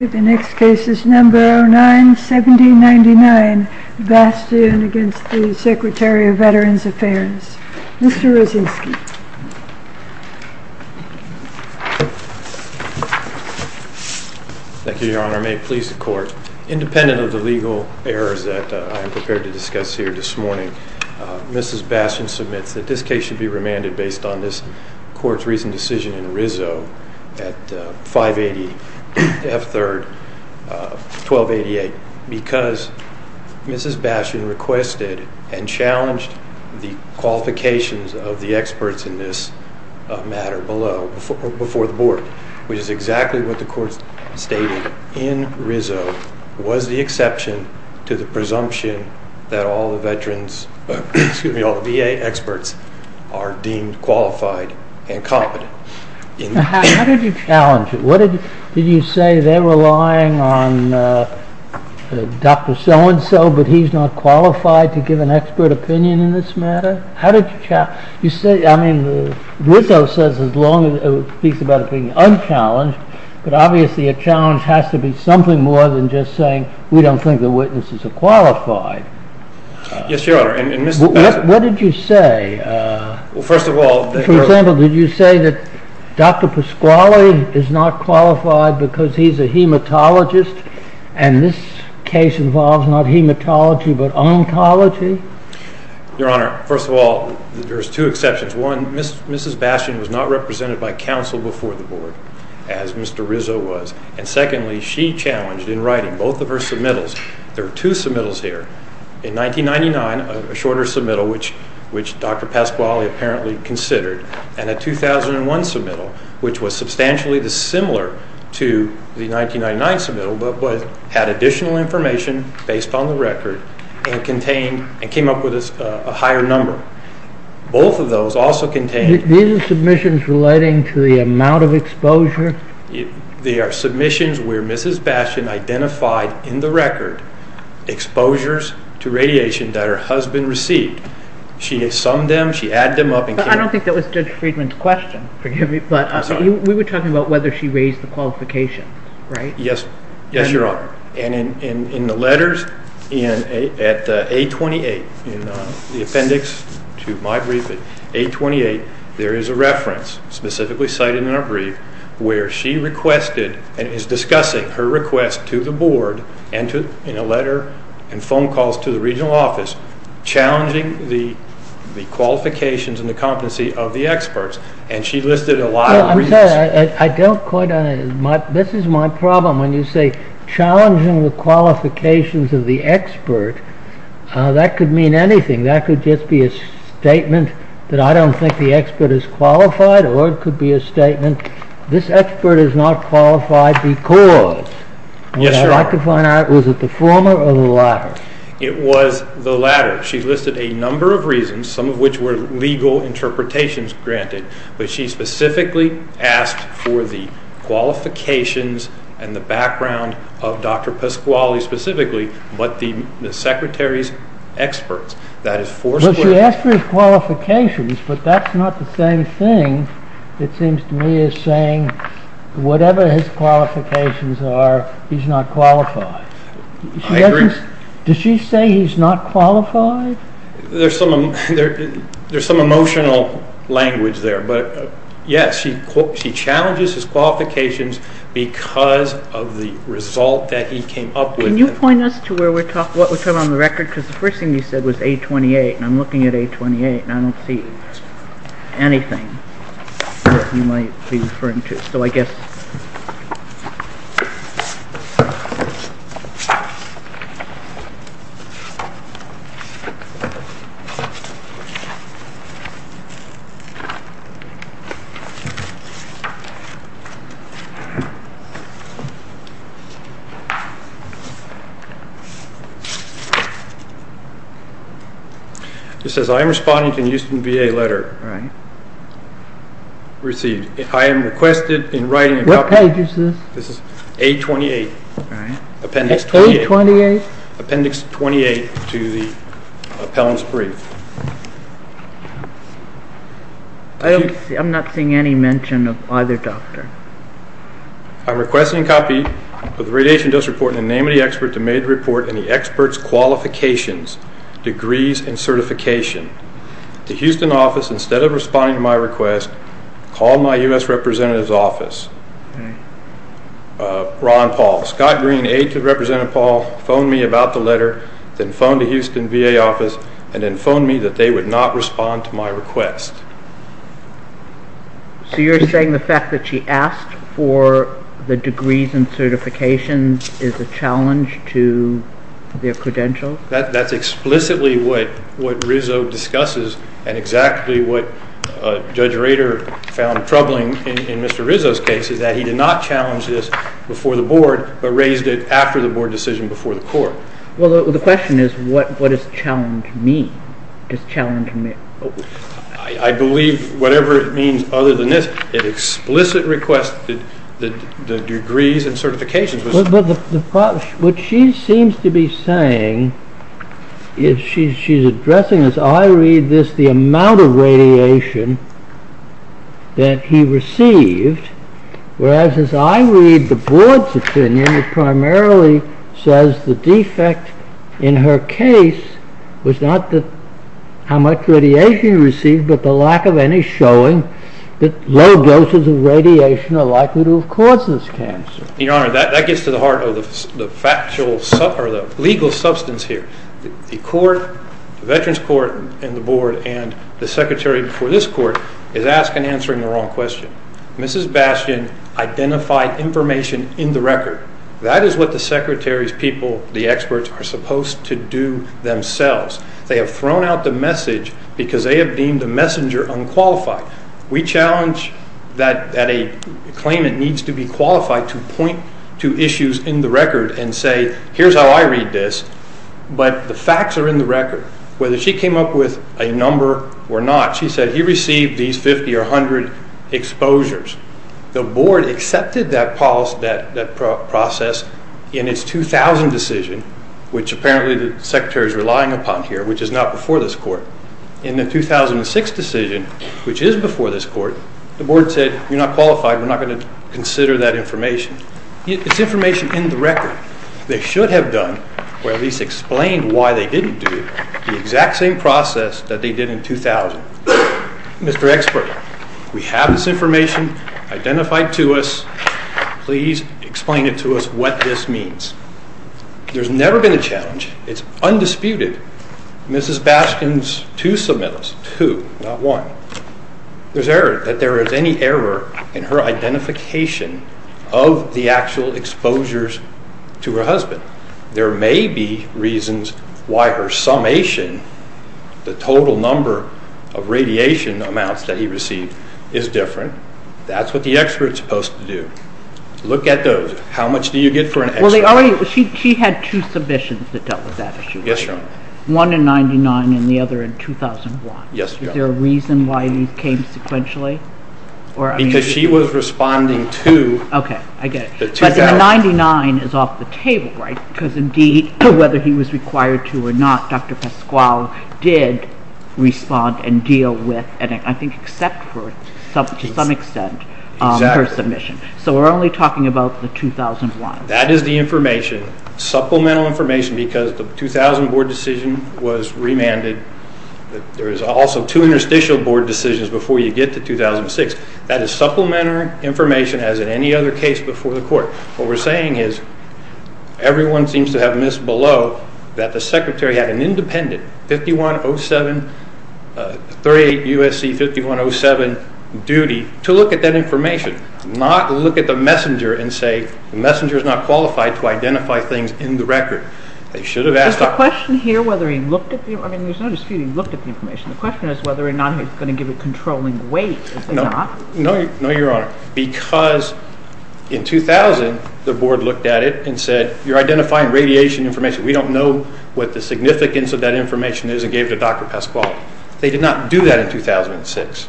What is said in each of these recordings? The next case is number 09-1799, Bastien v. Secretary of Veterans Affairs, Mr. Rosensky. Thank you, Your Honor. May it please the Court. Independent of the legal errors that I am prepared to discuss here this morning, Mrs. Bastien submits that this case should be remanded based on this Court's recent decision in Rizzo at 580 F. 3rd 1288 because Mrs. Bastien requested and challenged the qualifications of the experts in this matter below, before the Board, which is exactly what the Court stated in Rizzo was the exception to the presumption that all the veterans, excuse me, all the VA experts are deemed qualified and competent. How did you challenge it? Did you say they're relying on Dr. So-and-so, but he's not qualified to give an expert opinion in this matter? How did you challenge it? I mean, Rizzo speaks about it being unchallenged, but obviously a challenge has to be something more than just saying, we don't think the witnesses are qualified. Yes, Your Honor. What did you say? Well, first of all, For example, did you say that Dr. Pasquale is not qualified because he's a hematologist and this case involves not hematology but ontology? Your Honor, first of all, there's two exceptions. One, Mrs. Bastien was not represented by counsel before the Board, as Mr. Rizzo was. And secondly, she challenged in writing both of her submittals, there are two submittals here, in 1999, a shorter submittal, which Dr. Pasquale apparently considered, and a 2001 submittal, which was substantially dissimilar to the 1999 submittal but had additional information based on the record and came up with a higher number. Both of those also contained They are submissions where Mrs. Bastien identified in the record exposures to radiation that her husband received. She had summed them, she added them up and came up with I don't think that was Judge Friedman's question. Forgive me, but we were talking about whether she raised the qualifications, right? Yes, Your Honor. And in the letters at A28, in the appendix to my brief at A28, there is a reference, specifically cited in our brief, where she requested and is discussing her request to the Board in a letter and phone calls to the regional office, challenging the qualifications and the competency of the experts. And she listed a lot of reasons. I'm sorry, I don't quite understand. This is my problem. When you say challenging the qualifications of the expert, that could mean anything. That could just be a statement that I don't think the expert is qualified or it could be a statement, this expert is not qualified because... Yes, Your Honor. Would I like to find out, was it the former or the latter? It was the latter. She listed a number of reasons, some of which were legal interpretations granted, but she specifically asked for the qualifications and the background of Dr. Pasquale, specifically, but the secretary's experts. She asked for his qualifications, but that's not the same thing, it seems to me, as saying whatever his qualifications are, he's not qualified. I agree. Does she say he's not qualified? There's some emotional language there, but yes, she challenges his qualifications because of the result that he came up with. Can you point us to what we're talking about on the record? Because the first thing you said was A28, and I'm looking at A28, and I don't see anything that you might be referring to. So I guess... It says, I am responding to a Houston VA letter received. I am requested in writing a copy... What page is this? This is A28. All right. Appendix 28. A28? Appendix 28 to the appellant's brief. I'm not seeing any mention of either doctor. I'm requesting a copy of the radiation dose report in the name of the expert who made the report and the expert's qualifications, degrees, and certification. The Houston office, instead of responding to my request, called my U.S. representative's office. Ron Paul. Scott Green, aide to Representative Paul, phoned me about the letter, then phoned the Houston VA office, and then phoned me that they would not respond to my request. So you're saying the fact that she asked for the degrees and certifications is a challenge to their credentials? That's explicitly what Rizzo discusses, and exactly what Judge Rader found troubling in Mr. Rizzo's case, is that he did not challenge this before the board, but raised it after the board decision before the court. Well, the question is, what does challenge mean? I believe whatever it means other than this, an explicit request, the degrees and certifications. What she seems to be saying, she's addressing this, I read this, the amount of radiation that he received, whereas as I read the board's opinion, it primarily says the defect in her case was not how much radiation he received, but the lack of any showing that low doses of radiation are likely to have caused this cancer. Your Honor, that gets to the heart of the legal substance here. The veterans court and the board and the secretary before this court is asking and answering the wrong question. Mrs. Bastian identified information in the record. That is what the secretary's people, the experts, are supposed to do themselves. They have thrown out the message because they have deemed the messenger unqualified. We challenge that a claimant needs to be qualified to point to issues in the record and say, here's how I read this, but the facts are in the record. Whether she came up with a number or not, she said he received these 50 or 100 exposures. The board accepted that process in its 2000 decision, which apparently the secretary is relying upon here, which is not before this court. In the 2006 decision, which is before this court, the board said, you're not qualified, we're not going to consider that information. It's information in the record. They should have done, or at least explained why they didn't do it, the exact same process that they did in 2000. Mr. Expert, we have this information identified to us. Please explain to us what this means. There's never been a challenge. It's undisputed. Mrs. Bastian's two submittals, two, not one, there's error that there is any error in her identification of the actual exposures to her husband. There may be reasons why her summation, the total number of radiation amounts that he received is different. That's what the expert's supposed to do. Look at those. How much do you get for an extra one? She had two submissions that dealt with that issue. Yes, Your Honor. One in 1999 and the other in 2001. Yes, Your Honor. Is there a reason why these came sequentially? Because she was responding to the 2000... Okay, I get it. But the 1999 is off the table, right? Because, indeed, whether he was required to or not, Dr. Pasquale did respond and deal with, and I think except for, to some extent, her submission. Exactly. So we're only talking about the 2001. That is the information, supplemental information, because the 2000 board decision was remanded. There is also two interstitial board decisions before you get to 2006. That is supplemental information as in any other case before the court. What we're saying is everyone seems to have missed below that the secretary had an independent 5107, 38 U.S.C. 5107 duty to look at that information, not look at the messenger and say, the messenger is not qualified to identify things in the record. They should have asked... Is the question here whether he looked at the information? I mean, there's no dispute he looked at the information. The question is whether or not he was going to give a controlling weight. No, Your Honor, because in 2000 the board looked at it and said, you're identifying radiation information. We don't know what the significance of that information is and gave it to Dr. Pasquale. They did not do that in 2006.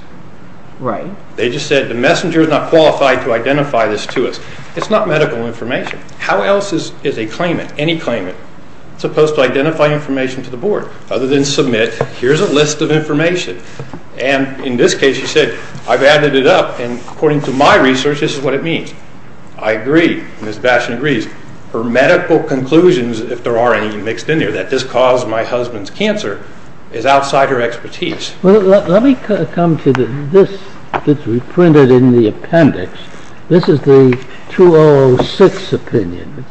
Right. They just said the messenger is not qualified to identify this to us. It's not medical information. How else is a claimant, any claimant, supposed to identify information to the board other than submit, here's a list of information, and in this case he said, I've added it up, and according to my research this is what it means. I agree. Ms. Bastian agrees. Her medical conclusions, if there are any mixed in there, that this caused my husband's cancer is outside her expertise. Let me come to this that's reprinted in the appendix. This is the 2006 opinion.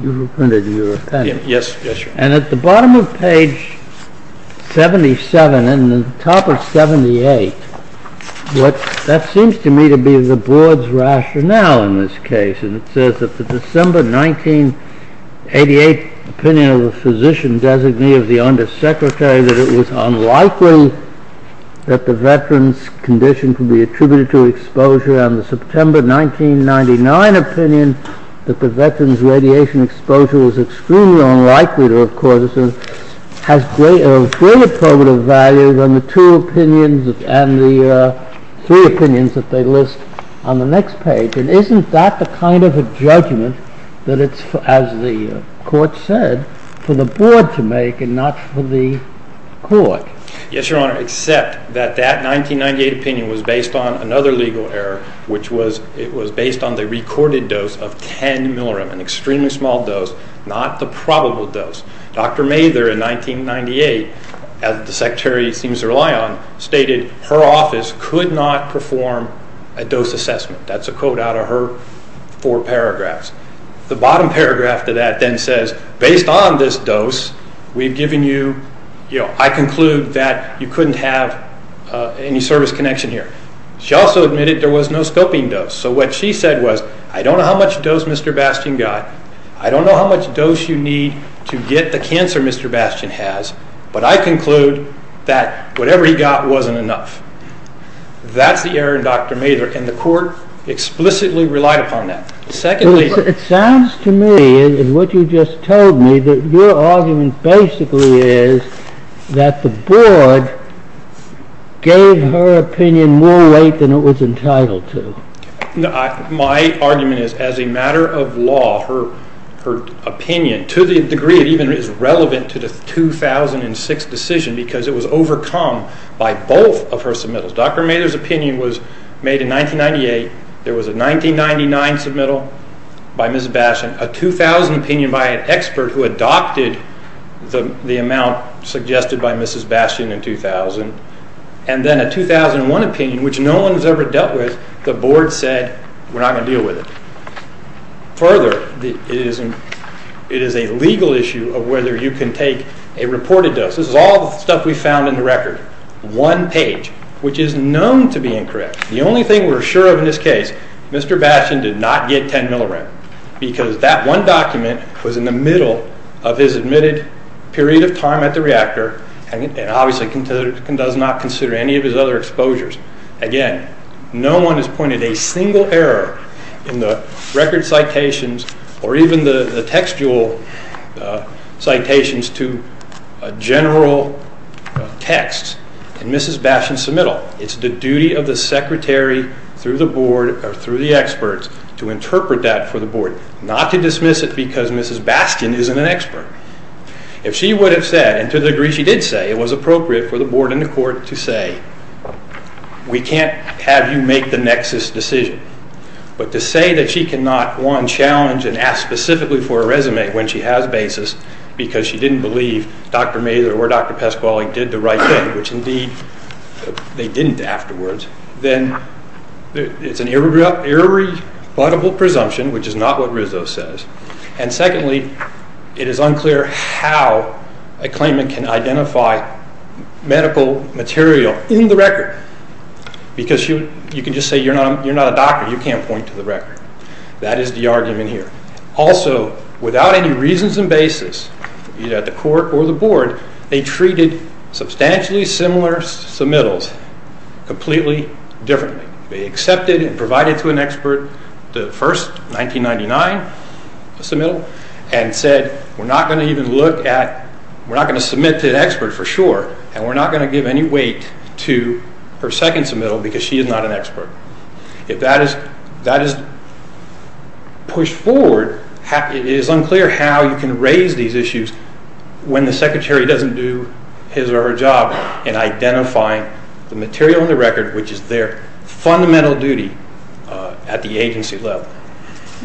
You've reprinted your appendix. Yes, Your Honor. And at the bottom of page 77 and the top of 78, that seems to me to be the board's rationale in this case. It says that the December 1988 opinion of the physician-designee of the undersecretary that it was unlikely that the veteran's condition could be attributed to exposure and the September 1999 opinion that the veteran's radiation exposure was extremely unlikely to have caused it has great affirmative values on the two opinions and the three opinions that they list on the next page. And isn't that the kind of a judgment that it's, as the court said, for the board to make and not for the court? Yes, Your Honor, except that that 1998 opinion was based on another legal error, which was it was based on the recorded dose of 10 millirem, an extremely small dose, not the probable dose. Dr. Mather in 1998, as the secretary seems to rely on, stated her office could not perform a dose assessment. That's a quote out of her four paragraphs. The bottom paragraph to that then says, based on this dose we've given you, I conclude that you couldn't have any service connection here. She also admitted there was no scoping dose. So what she said was, I don't know how much dose Mr. Bastian got, I don't know how much dose you need to get the cancer Mr. Bastian has, but I conclude that whatever he got wasn't enough. That's the error in Dr. Mather, and the court explicitly relied upon that. It sounds to me, in what you just told me, that your argument basically is that the board gave her opinion more weight than it was entitled to. My argument is, as a matter of law, her opinion, to the degree it even is relevant to the 2006 decision, because it was overcome by both of her submittals. Dr. Mather's opinion was made in 1998, there was a 1999 submittal by Mrs. Bastian, a 2000 opinion by an expert who adopted the amount suggested by Mrs. Bastian in 2000, and then a 2001 opinion, which no one has ever dealt with, the board said, we're not going to deal with it. Further, it is a legal issue of whether you can take a reported dose. This is all the stuff we found in the record. One page, which is known to be incorrect. The only thing we're sure of in this case, Mr. Bastian did not get 10 millirent, because that one document was in the middle of his admitted period of time at the reactor, and obviously does not consider any of his other exposures. Again, no one has pointed a single error in the record citations, or even the textual citations to a general text in Mrs. Bastian's submittal. It's the duty of the secretary through the board, or through the experts, to interpret that for the board, not to dismiss it because Mrs. Bastian isn't an expert. If she would have said, and to the degree she did say, it was appropriate for the board and the court to say, we can't have you make the nexus decision. But to say that she cannot, one, challenge and ask specifically for a resume when she has basis, because she didn't believe Dr. Mazur or Dr. Pesquale did the right thing, which indeed they didn't afterwards, then it's an irrebuttable presumption, which is not what Rizzo says. And secondly, it is unclear how a claimant can identify medical material in the record. Because you can just say you're not a doctor, you can't point to the record. That is the argument here. Also, without any reasons and basis, either at the court or the board, they treated substantially similar submittals completely differently. They accepted and provided to an expert the first 1999 submittal and said, we're not going to even look at, we're not going to submit to an expert for sure, and we're not going to give any weight to her second submittal because she is not an expert. If that is pushed forward, it is unclear how you can raise these issues when the secretary doesn't do his or her job in identifying the material in the record, which is their fundamental duty at the agency level.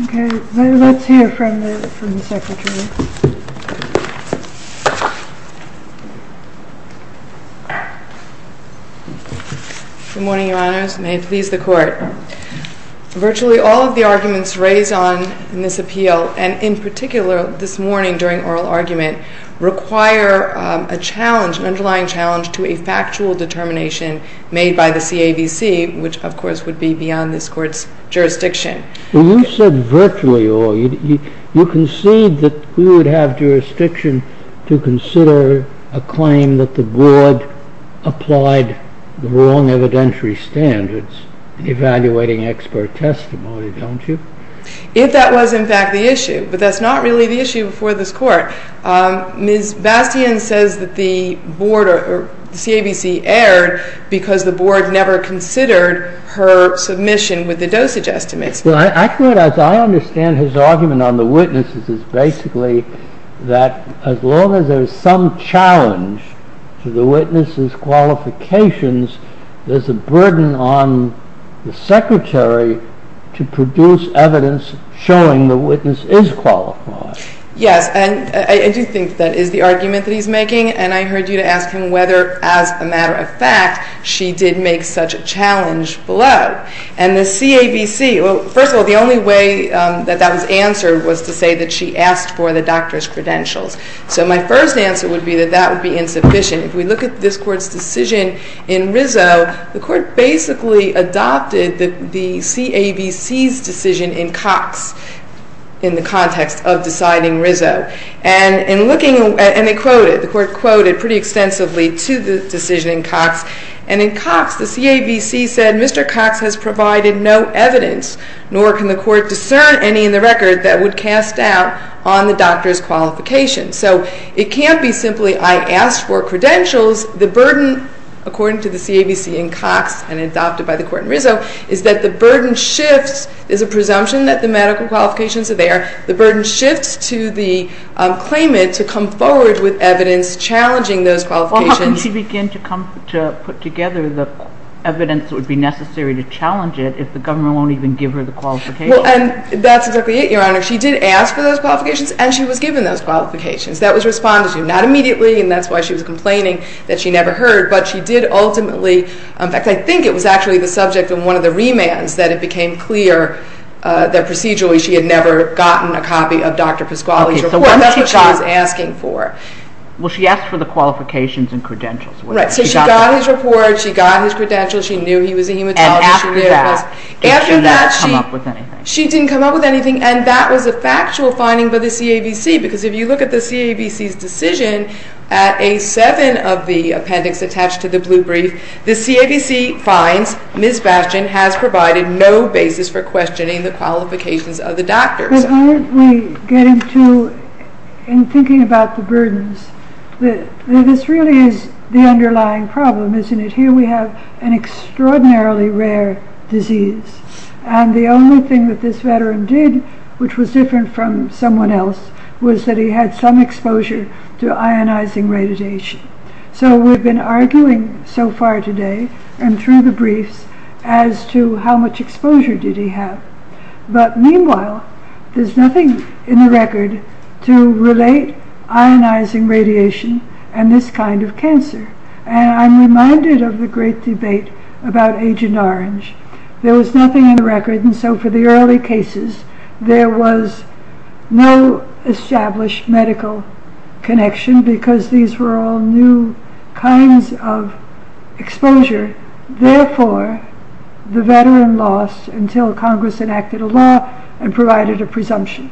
Okay. Let's hear from the secretary. Good morning, Your Honors. May it please the Court. Virtually all of the arguments raised on in this appeal, and in particular this morning during oral argument, require an underlying challenge to a factual determination made by the CAVC, which of course would be beyond this Court's jurisdiction. You said virtually all. You concede that we would have jurisdiction to consider a claim that the board applied the wrong evidentiary standards, evaluating expert testimony, don't you? If that was in fact the issue. But that's not really the issue before this Court. Ms. Bastian says that the CAVC erred because the board never considered her submission with the dosage estimates. I understand his argument on the witnesses is basically that as long as there is some challenge to the witnesses' qualifications, there's a burden on the secretary to produce evidence showing the witness is qualified. Yes, and I do think that is the argument that he's making. And I heard you ask him whether, as a matter of fact, she did make such a challenge below. And the CAVC, well, first of all, the only way that that was answered was to say that she asked for the doctor's credentials. So my first answer would be that that would be insufficient. If we look at this Court's decision in Rizzo, the Court basically adopted the CAVC's decision in Cox in the context of deciding Rizzo. And they quoted, the Court quoted pretty extensively to the decision in Cox. And in Cox, the CAVC said, Mr. Cox has provided no evidence, nor can the Court discern any in the record that would cast doubt on the doctor's qualifications. So it can't be simply I asked for credentials. The burden, according to the CAVC in Cox and adopted by the Court in Rizzo, is that the burden shifts. There's a presumption that the medical qualifications are there. The burden shifts to the claimant to come forward with evidence challenging those qualifications. Well, how can she begin to put together the evidence that would be necessary to challenge it if the government won't even give her the qualifications? Well, and that's exactly it, Your Honor. She did ask for those qualifications, and she was given those qualifications. That was responded to. Not immediately, and that's why she was complaining that she never heard, but she did ultimately, in fact, I think it was actually the subject of one of the remands that it became clear that procedurally she had never gotten a copy of Dr. Pasquale's report. That's what she was asking for. Well, she asked for the qualifications and credentials. Right. So she got his report, she got his credentials, she knew he was a hematologist. And after that, she didn't come up with anything. She didn't come up with anything, and that was a factual finding by the CAVC, because if you look at the CAVC's decision, at A7 of the appendix attached to the blue brief, the CAVC finds Ms. Bastian has provided no basis for questioning the qualifications of the doctors. But aren't we getting to, in thinking about the burdens, this really is the underlying problem, isn't it? Here we have an extraordinarily rare disease, and the only thing that this veteran did, which was different from someone else, was that he had some exposure to ionizing radiation. So we've been arguing so far today, and through the briefs, as to how much exposure did he have. But meanwhile, there's nothing in the record to relate ionizing radiation and this kind of cancer. And I'm reminded of the great debate about Agent Orange. There was nothing in the record, and so for the early cases, there was no established medical connection, because these were all new kinds of exposure. Therefore, the veteran lost until Congress enacted a law and provided a presumption.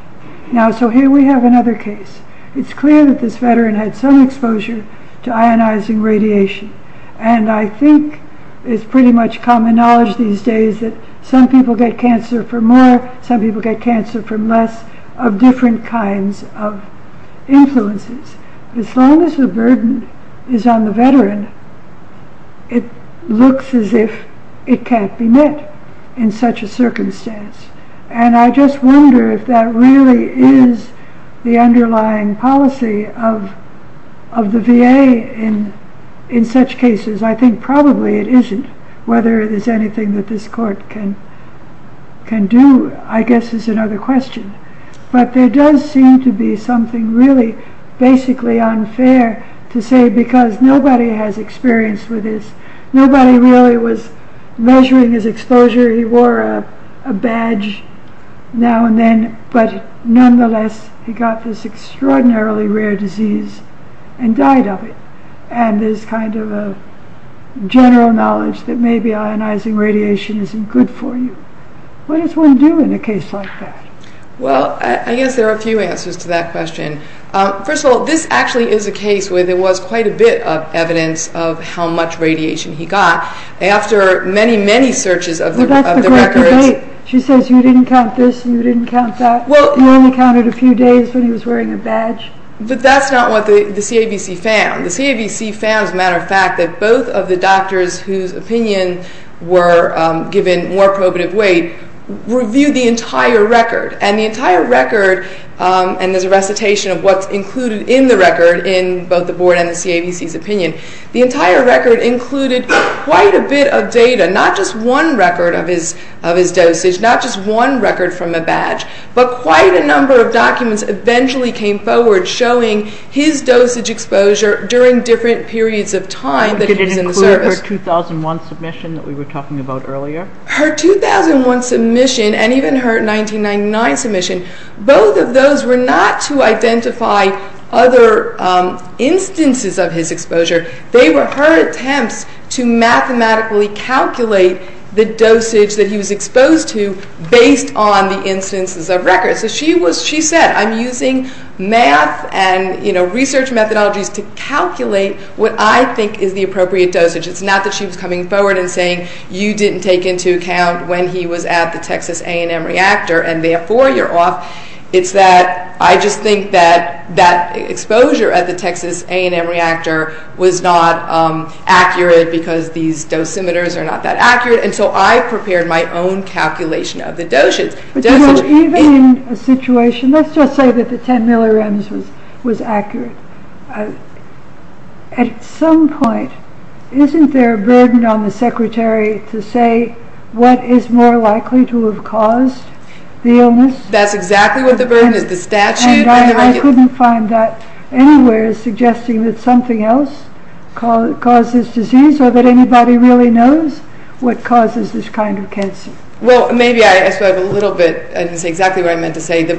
Now, so here we have another case. It's clear that this veteran had some exposure to ionizing radiation. And I think it's pretty much common knowledge these days that some people get cancer from more, some people get cancer from less, of different kinds of influences. As long as the burden is on the veteran, it looks as if it can't be met in such a circumstance. And I just wonder if that really is the underlying policy of the VA in such cases. I think probably it isn't. Whether there's anything that this court can do, I guess, is another question. But there does seem to be something really basically unfair to say, because nobody has experience with this. Nobody really was measuring his exposure. He wore a badge now and then, but nonetheless, he got this extraordinarily rare disease and died of it. And there's kind of a general knowledge that maybe ionizing radiation isn't good for you. What does one do in a case like that? Well, I guess there are a few answers to that question. First of all, this actually is a case where there was quite a bit of evidence of how much radiation he got. After many, many searches of the records. She says you didn't count this, you didn't count that. He only counted a few days when he was wearing a badge. But that's not what the CAVC found. The CAVC found, as a matter of fact, that both of the doctors whose opinion were given more probative weight reviewed the entire record. And the entire record, and there's a recitation of what's included in the record in both the board and the CAVC's opinion, the entire record included quite a bit of data. Not just one record of his dosage, not just one record from a badge, but quite a number of documents eventually came forward showing his dosage exposure during different periods of time that he was in the service. Did it include her 2001 submission that we were talking about earlier? Her 2001 submission and even her 1999 submission, both of those were not to identify other instances of his exposure. They were her attempts to mathematically calculate the dosage that he was exposed to based on the instances of records. So she said I'm using math and research methodologies to calculate what I think is the appropriate dosage. It's not that she was coming forward and saying you didn't take into account when he was at the Texas A&M reactor and therefore you're off. It's that I just think that that exposure at the Texas A&M reactor was not accurate because these dosimeters are not that accurate. And so I prepared my own calculation of the dosage. Even in a situation, let's just say that the 10 millirems was accurate. At some point, isn't there a burden on the secretary to say what is more likely to have caused the illness? That's exactly what the burden is, the statute. And I couldn't find that anywhere suggesting that something else causes disease or that anybody really knows what causes this kind of cancer. Well, maybe I asked a little bit and that's exactly what I meant to say. The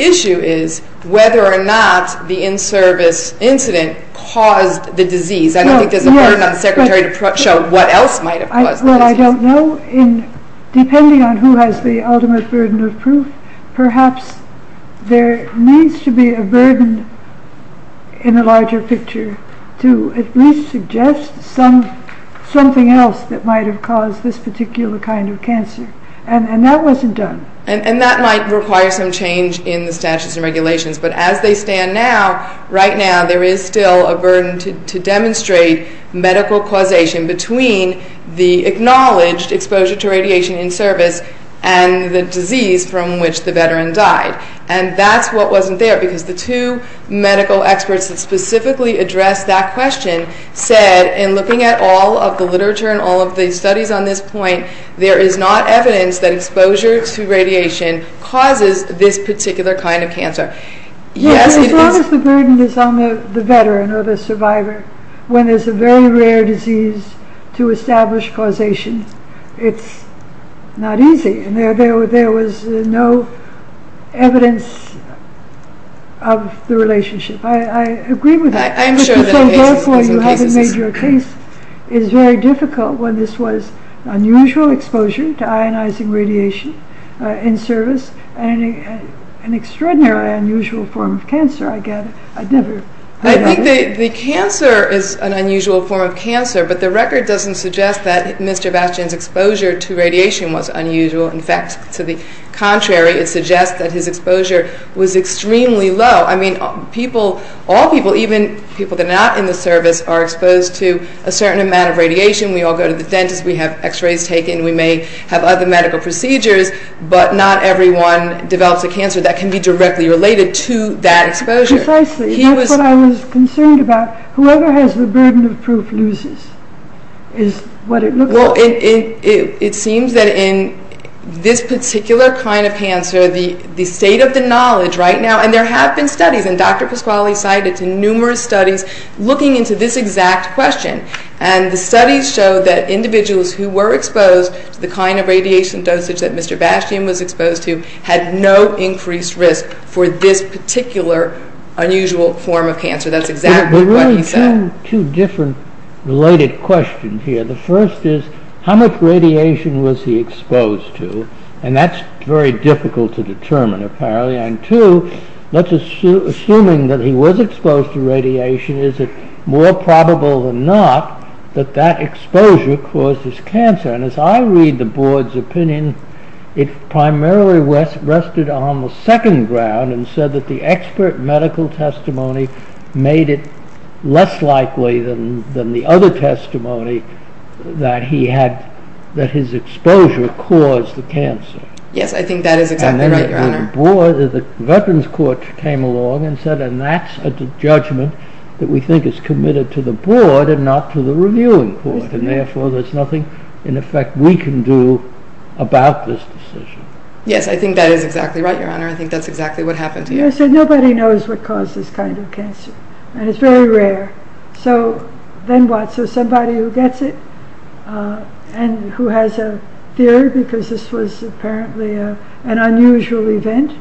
issue is whether or not the in-service incident caused the disease. I don't think there's a burden on the secretary to show what else might have caused the disease. Well, I don't know. Depending on who has the ultimate burden of proof, perhaps there needs to be a burden in the larger picture to at least suggest something else that might have caused this particular kind of cancer. And that wasn't done. And that might require some change in the statutes and regulations. But as they stand now, right now there is still a burden to demonstrate medical causation between the acknowledged exposure to radiation in service and the disease from which the veteran died. And that's what wasn't there because the two medical experts that specifically addressed that question said, in looking at all of the literature and all of the studies on this point, there is not evidence that exposure to radiation causes this particular kind of cancer. Yes, as long as the burden is on the veteran or the survivor, when there's a very rare disease to establish causation, it's not easy. And there was no evidence of the relationship. I agree with you. So therefore you haven't made your case. It's very difficult when this was unusual exposure to ionizing radiation in service and an extraordinarily unusual form of cancer, I get it. I think the cancer is an unusual form of cancer, but the record doesn't suggest that Mr. Bastian's exposure to radiation was unusual. In fact, to the contrary, it suggests that his exposure was extremely low. All people, even people that are not in the service, are exposed to a certain amount of radiation. We all go to the dentist, we have x-rays taken, we may have other medical procedures, but not everyone develops a cancer that can be directly related to that exposure. Precisely. That's what I was concerned about. Whoever has the burden of proof loses, is what it looks like. Well, it seems that in this particular kind of cancer, the state of the knowledge right now, and there have been studies, and Dr. Pasquale cited numerous studies looking into this exact question, and the studies show that individuals who were exposed to the kind of radiation dosage that Mr. Bastian was exposed to had no increased risk for this particular unusual form of cancer. That's exactly what he said. There are two different related questions here. The first is, how much radiation was he exposed to? And that's very difficult to determine, apparently. And two, let's assume that he was exposed to radiation, is it more probable than not that that exposure caused his cancer? And as I read the Board's opinion, it primarily rested on the second ground and said that the expert medical testimony made it less likely than the other testimony that his exposure caused the cancer. The Veterans Court came along and said, and that's a judgment that we think is committed to the Board and not to the Reviewing Court, and therefore there's nothing in effect we can do about this decision. Yes, I think that is exactly right, Your Honor. I think that's exactly what happened here. Nobody knows what caused this kind of cancer, and it's very rare. So, then what? So, somebody who gets it and who has a fear, because this was apparently an unusual event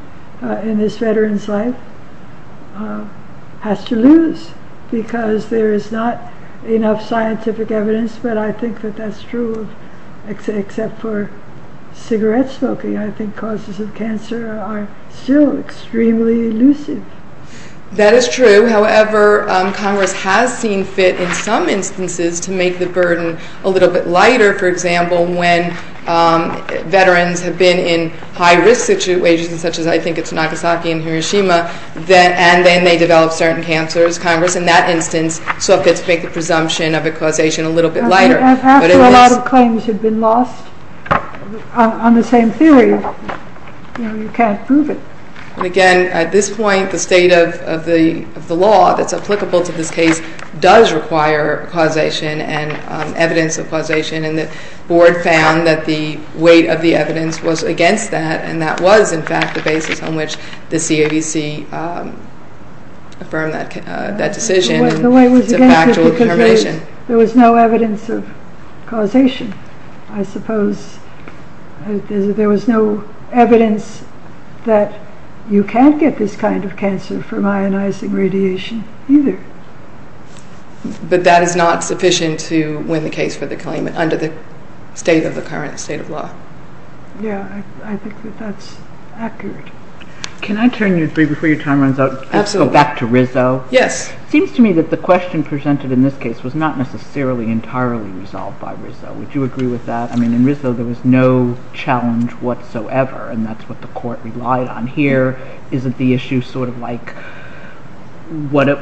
in this veteran's life, has to lose, because there is not enough scientific evidence. But I think that that's true, except for cigarette smoking. I think causes of cancer are still extremely elusive. That is true. However, Congress has seen fit in some instances to make the burden a little bit lighter. For example, when veterans have been in high-risk situations, such as I think it's Nagasaki and Hiroshima, and then they develop certain cancers, Congress in that instance saw fit to make the presumption of a causation a little bit lighter. After a lot of claims have been lost on the same theory, you can't prove it. Again, at this point, the state of the law that's applicable to this case does require causation and evidence of causation, and the Board found that the weight of the evidence was against that, and that was, in fact, the basis on which the CAVC affirmed that decision. The weight was against it because there was no evidence of causation. I suppose there was no evidence that you can't get this kind of cancer from ionizing radiation either. But that is not sufficient to win the case for the claim under the state of the current state of law. Yeah, I think that that's accurate. Can I turn you, before your time runs out, back to Rizzo? Yes. It seems to me that the question presented in this case was not necessarily entirely resolved by Rizzo. Would you agree with that? I mean, in Rizzo, there was no challenge whatsoever, and that's what the Court relied on. Here, isn't the issue sort of like, what do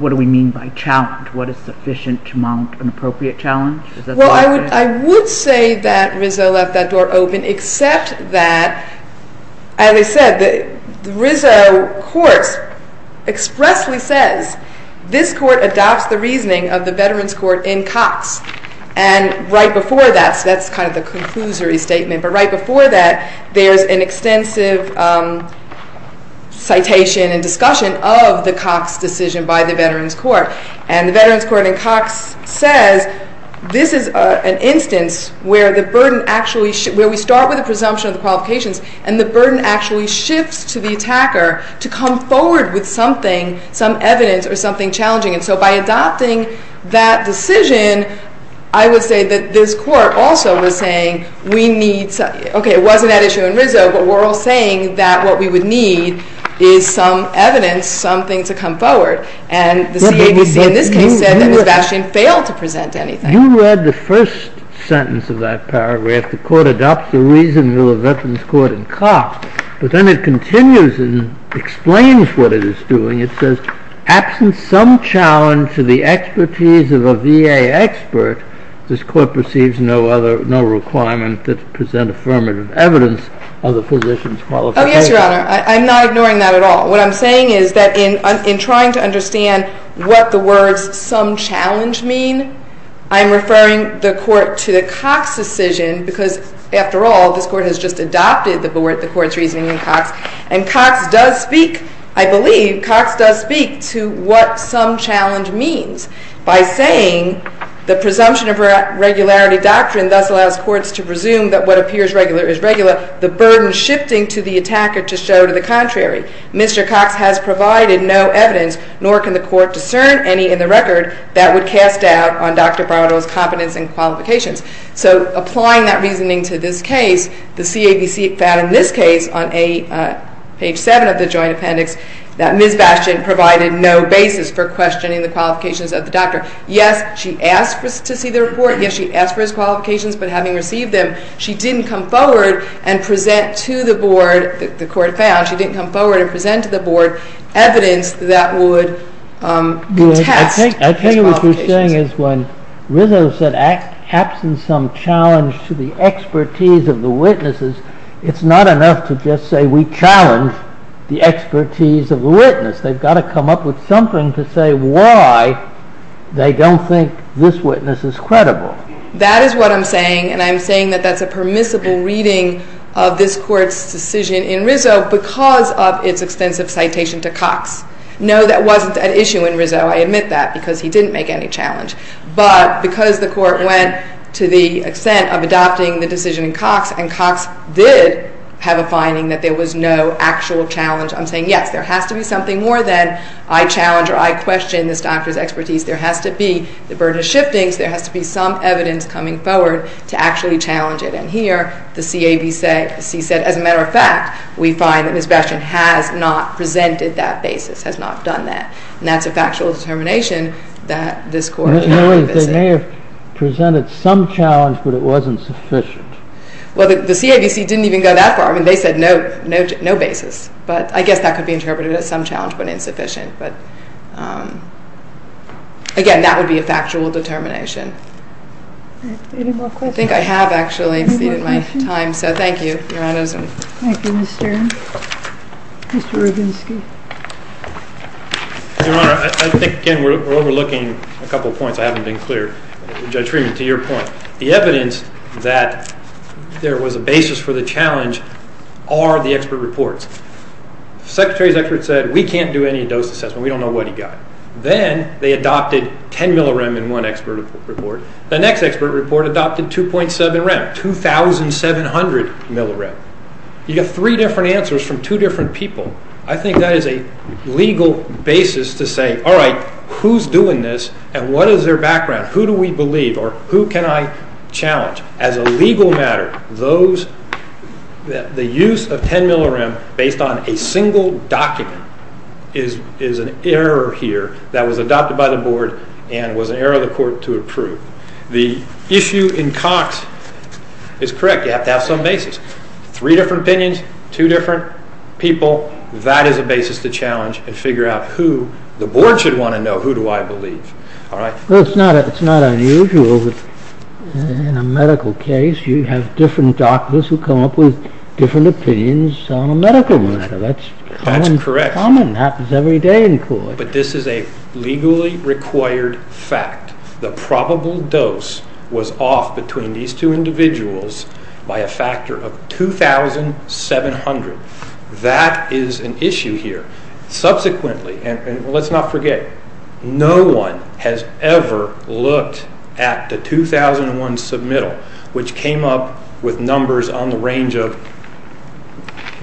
we mean by challenge? What is sufficient to mount an appropriate challenge? Well, I would say that Rizzo left that door open, except that, as I said, the Rizzo courts expressly says, this court adopts the reasoning of the Veterans Court in Cox. And right before that, so that's kind of the conclusory statement, but right before that, there's an extensive citation and discussion of the Cox decision by the Veterans Court. And the Veterans Court in Cox says, this is an instance where the burden actually, where we start with a presumption of the qualifications, and the burden actually shifts to the attacker to come forward with something, some evidence or something challenging. And so by adopting that decision, I would say that this Court also was saying, we need, okay, it wasn't that issue in Rizzo, but we're all saying that what we would need is some evidence, something to come forward. And the CABC in this case said that Ms. Bastian failed to present anything. You read the first sentence of that paragraph, the court adopts the reasoning of the Veterans Court in Cox, but then it continues and explains what it is doing. It says, absent some challenge to the expertise of a VA expert, this court perceives no requirement to present affirmative evidence of the physician's qualifications. Oh, yes, Your Honor. I'm not ignoring that at all. What I'm saying is that in trying to understand what the words some challenge mean, I'm referring the Court to the Cox decision because, after all, this Court has just adopted the Court's reasoning in Cox, and Cox does speak, I believe, Cox does speak to what some challenge means by saying the presumption of a regularity doctrine thus allows courts to presume that what appears regular is regular, the burden shifting to the attacker to show to the contrary. Mr. Cox has provided no evidence, nor can the Court discern any in the record, that would cast doubt on Dr. Bardo's competence and qualifications. So applying that reasoning to this case, the CABC found in this case on page 7 of the Joint Appendix that Ms. Bastian provided no basis for questioning the qualifications of the doctor. Yes, she asked to see the report. Yes, she asked for his qualifications, but having received them, she didn't come forward and present to the Board, the Court found, she didn't come forward and present to the Board evidence that would contest his qualifications. I tell you what you're saying is when Rizzo said, absent some challenge to the expertise of the witnesses, it's not enough to just say we challenge the expertise of the witness. They've got to come up with something to say why they don't think this witness is credible. That is what I'm saying, and I'm saying that that's a permissible reading of this Court's decision in Rizzo because of its extensive citation to Cox. No, that wasn't an issue in Rizzo. I admit that because he didn't make any challenge. But because the Court went to the extent of adopting the decision in Cox, and Cox did have a finding that there was no actual challenge, I'm saying yes, there has to be something more than I challenge or I question this doctor's expertise. There has to be the burden of shifting, so there has to be some evidence coming forward to actually challenge it. And here, the CABC said, as a matter of fact, we find that Ms. Bastian has not presented that basis, has not done that, and that's a factual determination that this Court did not revisit. They may have presented some challenge, but it wasn't sufficient. Well, the CABC didn't even go that far. I mean, they said no basis, but I guess that could be interpreted as some challenge but insufficient. But again, that would be a factual determination. Any more questions? I think I have actually exceeded my time, so thank you, Your Honor. Thank you, Ms. Stern. Mr. Roginsky. Your Honor, I think, again, we're overlooking a couple of points I haven't been clear. Judge Freeman, to your point, the evidence that there was a basis for the challenge are the expert reports. The Secretary's expert said, we can't do any dose assessment. We don't know what he got. Then they adopted 10 millirem in one expert report. The next expert report adopted 2.7 rem, 2,700 millirem. You get three different answers from two different people. I think that is a legal basis to say, all right, who's doing this and what is their background? Who do we believe or who can I challenge? As a legal matter, the use of 10 millirem based on a single document is an error here that was adopted by the board and was an error of the court to approve. The issue in Cox is correct. You have to have some basis. Three different opinions, two different people. That is a basis to challenge and figure out who the board should want to know, who do I believe. It's not unusual in a medical case. You have different doctors who come up with different opinions on a medical matter. That's common, happens every day in court. But this is a legally required fact. The probable dose was off between these two individuals by a factor of 2,700. That is an issue here. Subsequently, and let's not forget, no one has ever looked at the 2001 submittal, which came up with numbers on the range of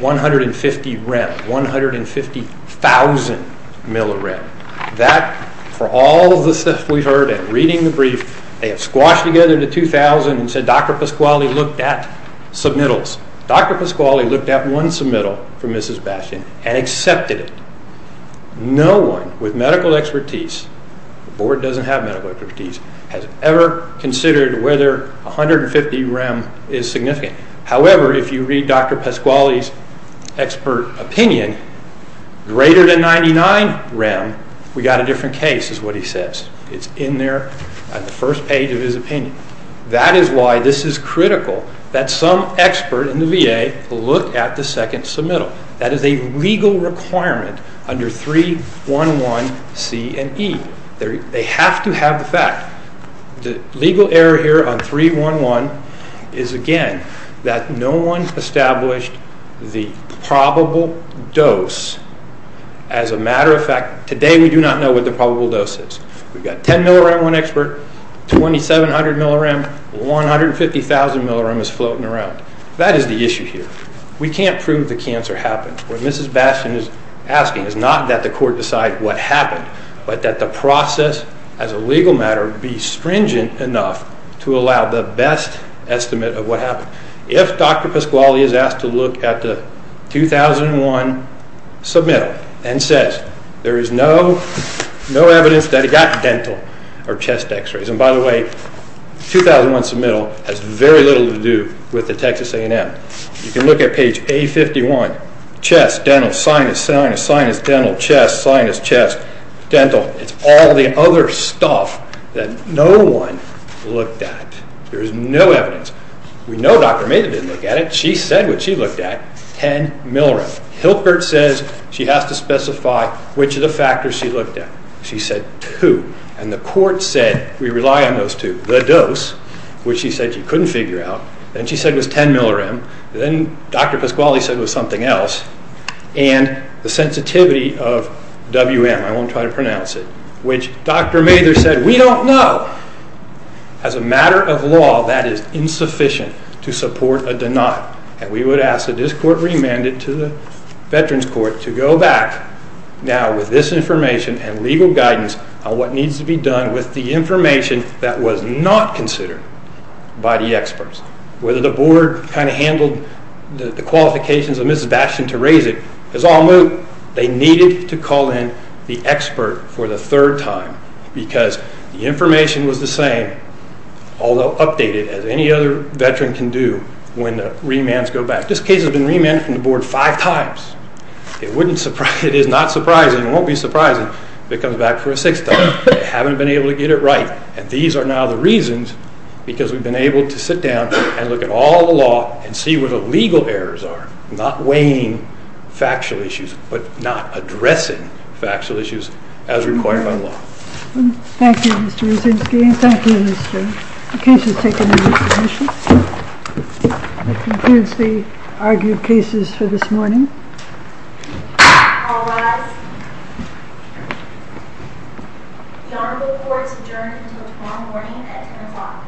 150 rem, 150,000 millirem. That, for all the stuff we've heard and reading the brief, they have squashed together the 2,000 and said Dr. Pasquale looked at submittals. Dr. Pasquale looked at one submittal from Mrs. Bastian and accepted it. No one with medical expertise, the board doesn't have medical expertise, has ever considered whether 150 rem is significant. However, if you read Dr. Pasquale's expert opinion, greater than 99 rem, we've got a different case is what he says. It's in there at the first page of his opinion. That is why this is critical that some expert in the VA look at the second submittal. That is a legal requirement under 311C and E. They have to have the fact. The legal error here on 311 is, again, that no one established the probable dose. As a matter of fact, today we do not know what the probable dose is. We've got 10 millirem one expert, 2,700 millirem, 150,000 millirem is floating around. That is the issue here. We can't prove the cancer happened. What Mrs. Bastian is asking is not that the court decide what happened, but that the process as a legal matter be stringent enough to allow the best estimate of what happened. If Dr. Pasquale is asked to look at the 2001 submittal and says, there is no evidence that he got dental or chest x-rays. By the way, 2001 submittal has very little to do with the Texas A&M. You can look at page A51. Chest, dental, sinus, sinus, sinus, dental, chest, sinus, chest, dental. It's all the other stuff that no one looked at. There is no evidence. We know Dr. Maynard didn't look at it. She said what she looked at, 10 millirem. Hilpert says she has to specify which of the factors she looked at. She said two, and the court said we rely on those two. The dose, which she said she couldn't figure out, and she said was 10 millirem. Then Dr. Pasquale said it was something else, and the sensitivity of WM, I won't try to pronounce it, which Dr. Maynard said we don't know. As a matter of law, that is insufficient to support a deny, and we would ask that this court remand it to the Veterans Court to go back now with this information and legal guidance on what needs to be done with the information that was not considered by the experts. Whether the board kind of handled the qualifications of Mrs. Bastian to raise it is all moot. They needed to call in the expert for the third time because the information was the same, although updated as any other Veteran can do when the remands go back. This case has been remanded from the board five times. It is not surprising, and won't be surprising if it comes back for a sixth time. They haven't been able to get it right, and these are now the reasons because we've been able to sit down and look at all the law and see where the legal errors are, not weighing factual issues, but not addressing factual issues as required by law. Thank you, Mr. Osinski. Thank you, Mr. Osinski. The case is taken into consideration. That concludes the argued cases for this morning. All rise. The honorable court is adjourned until tomorrow morning at 10 o'clock.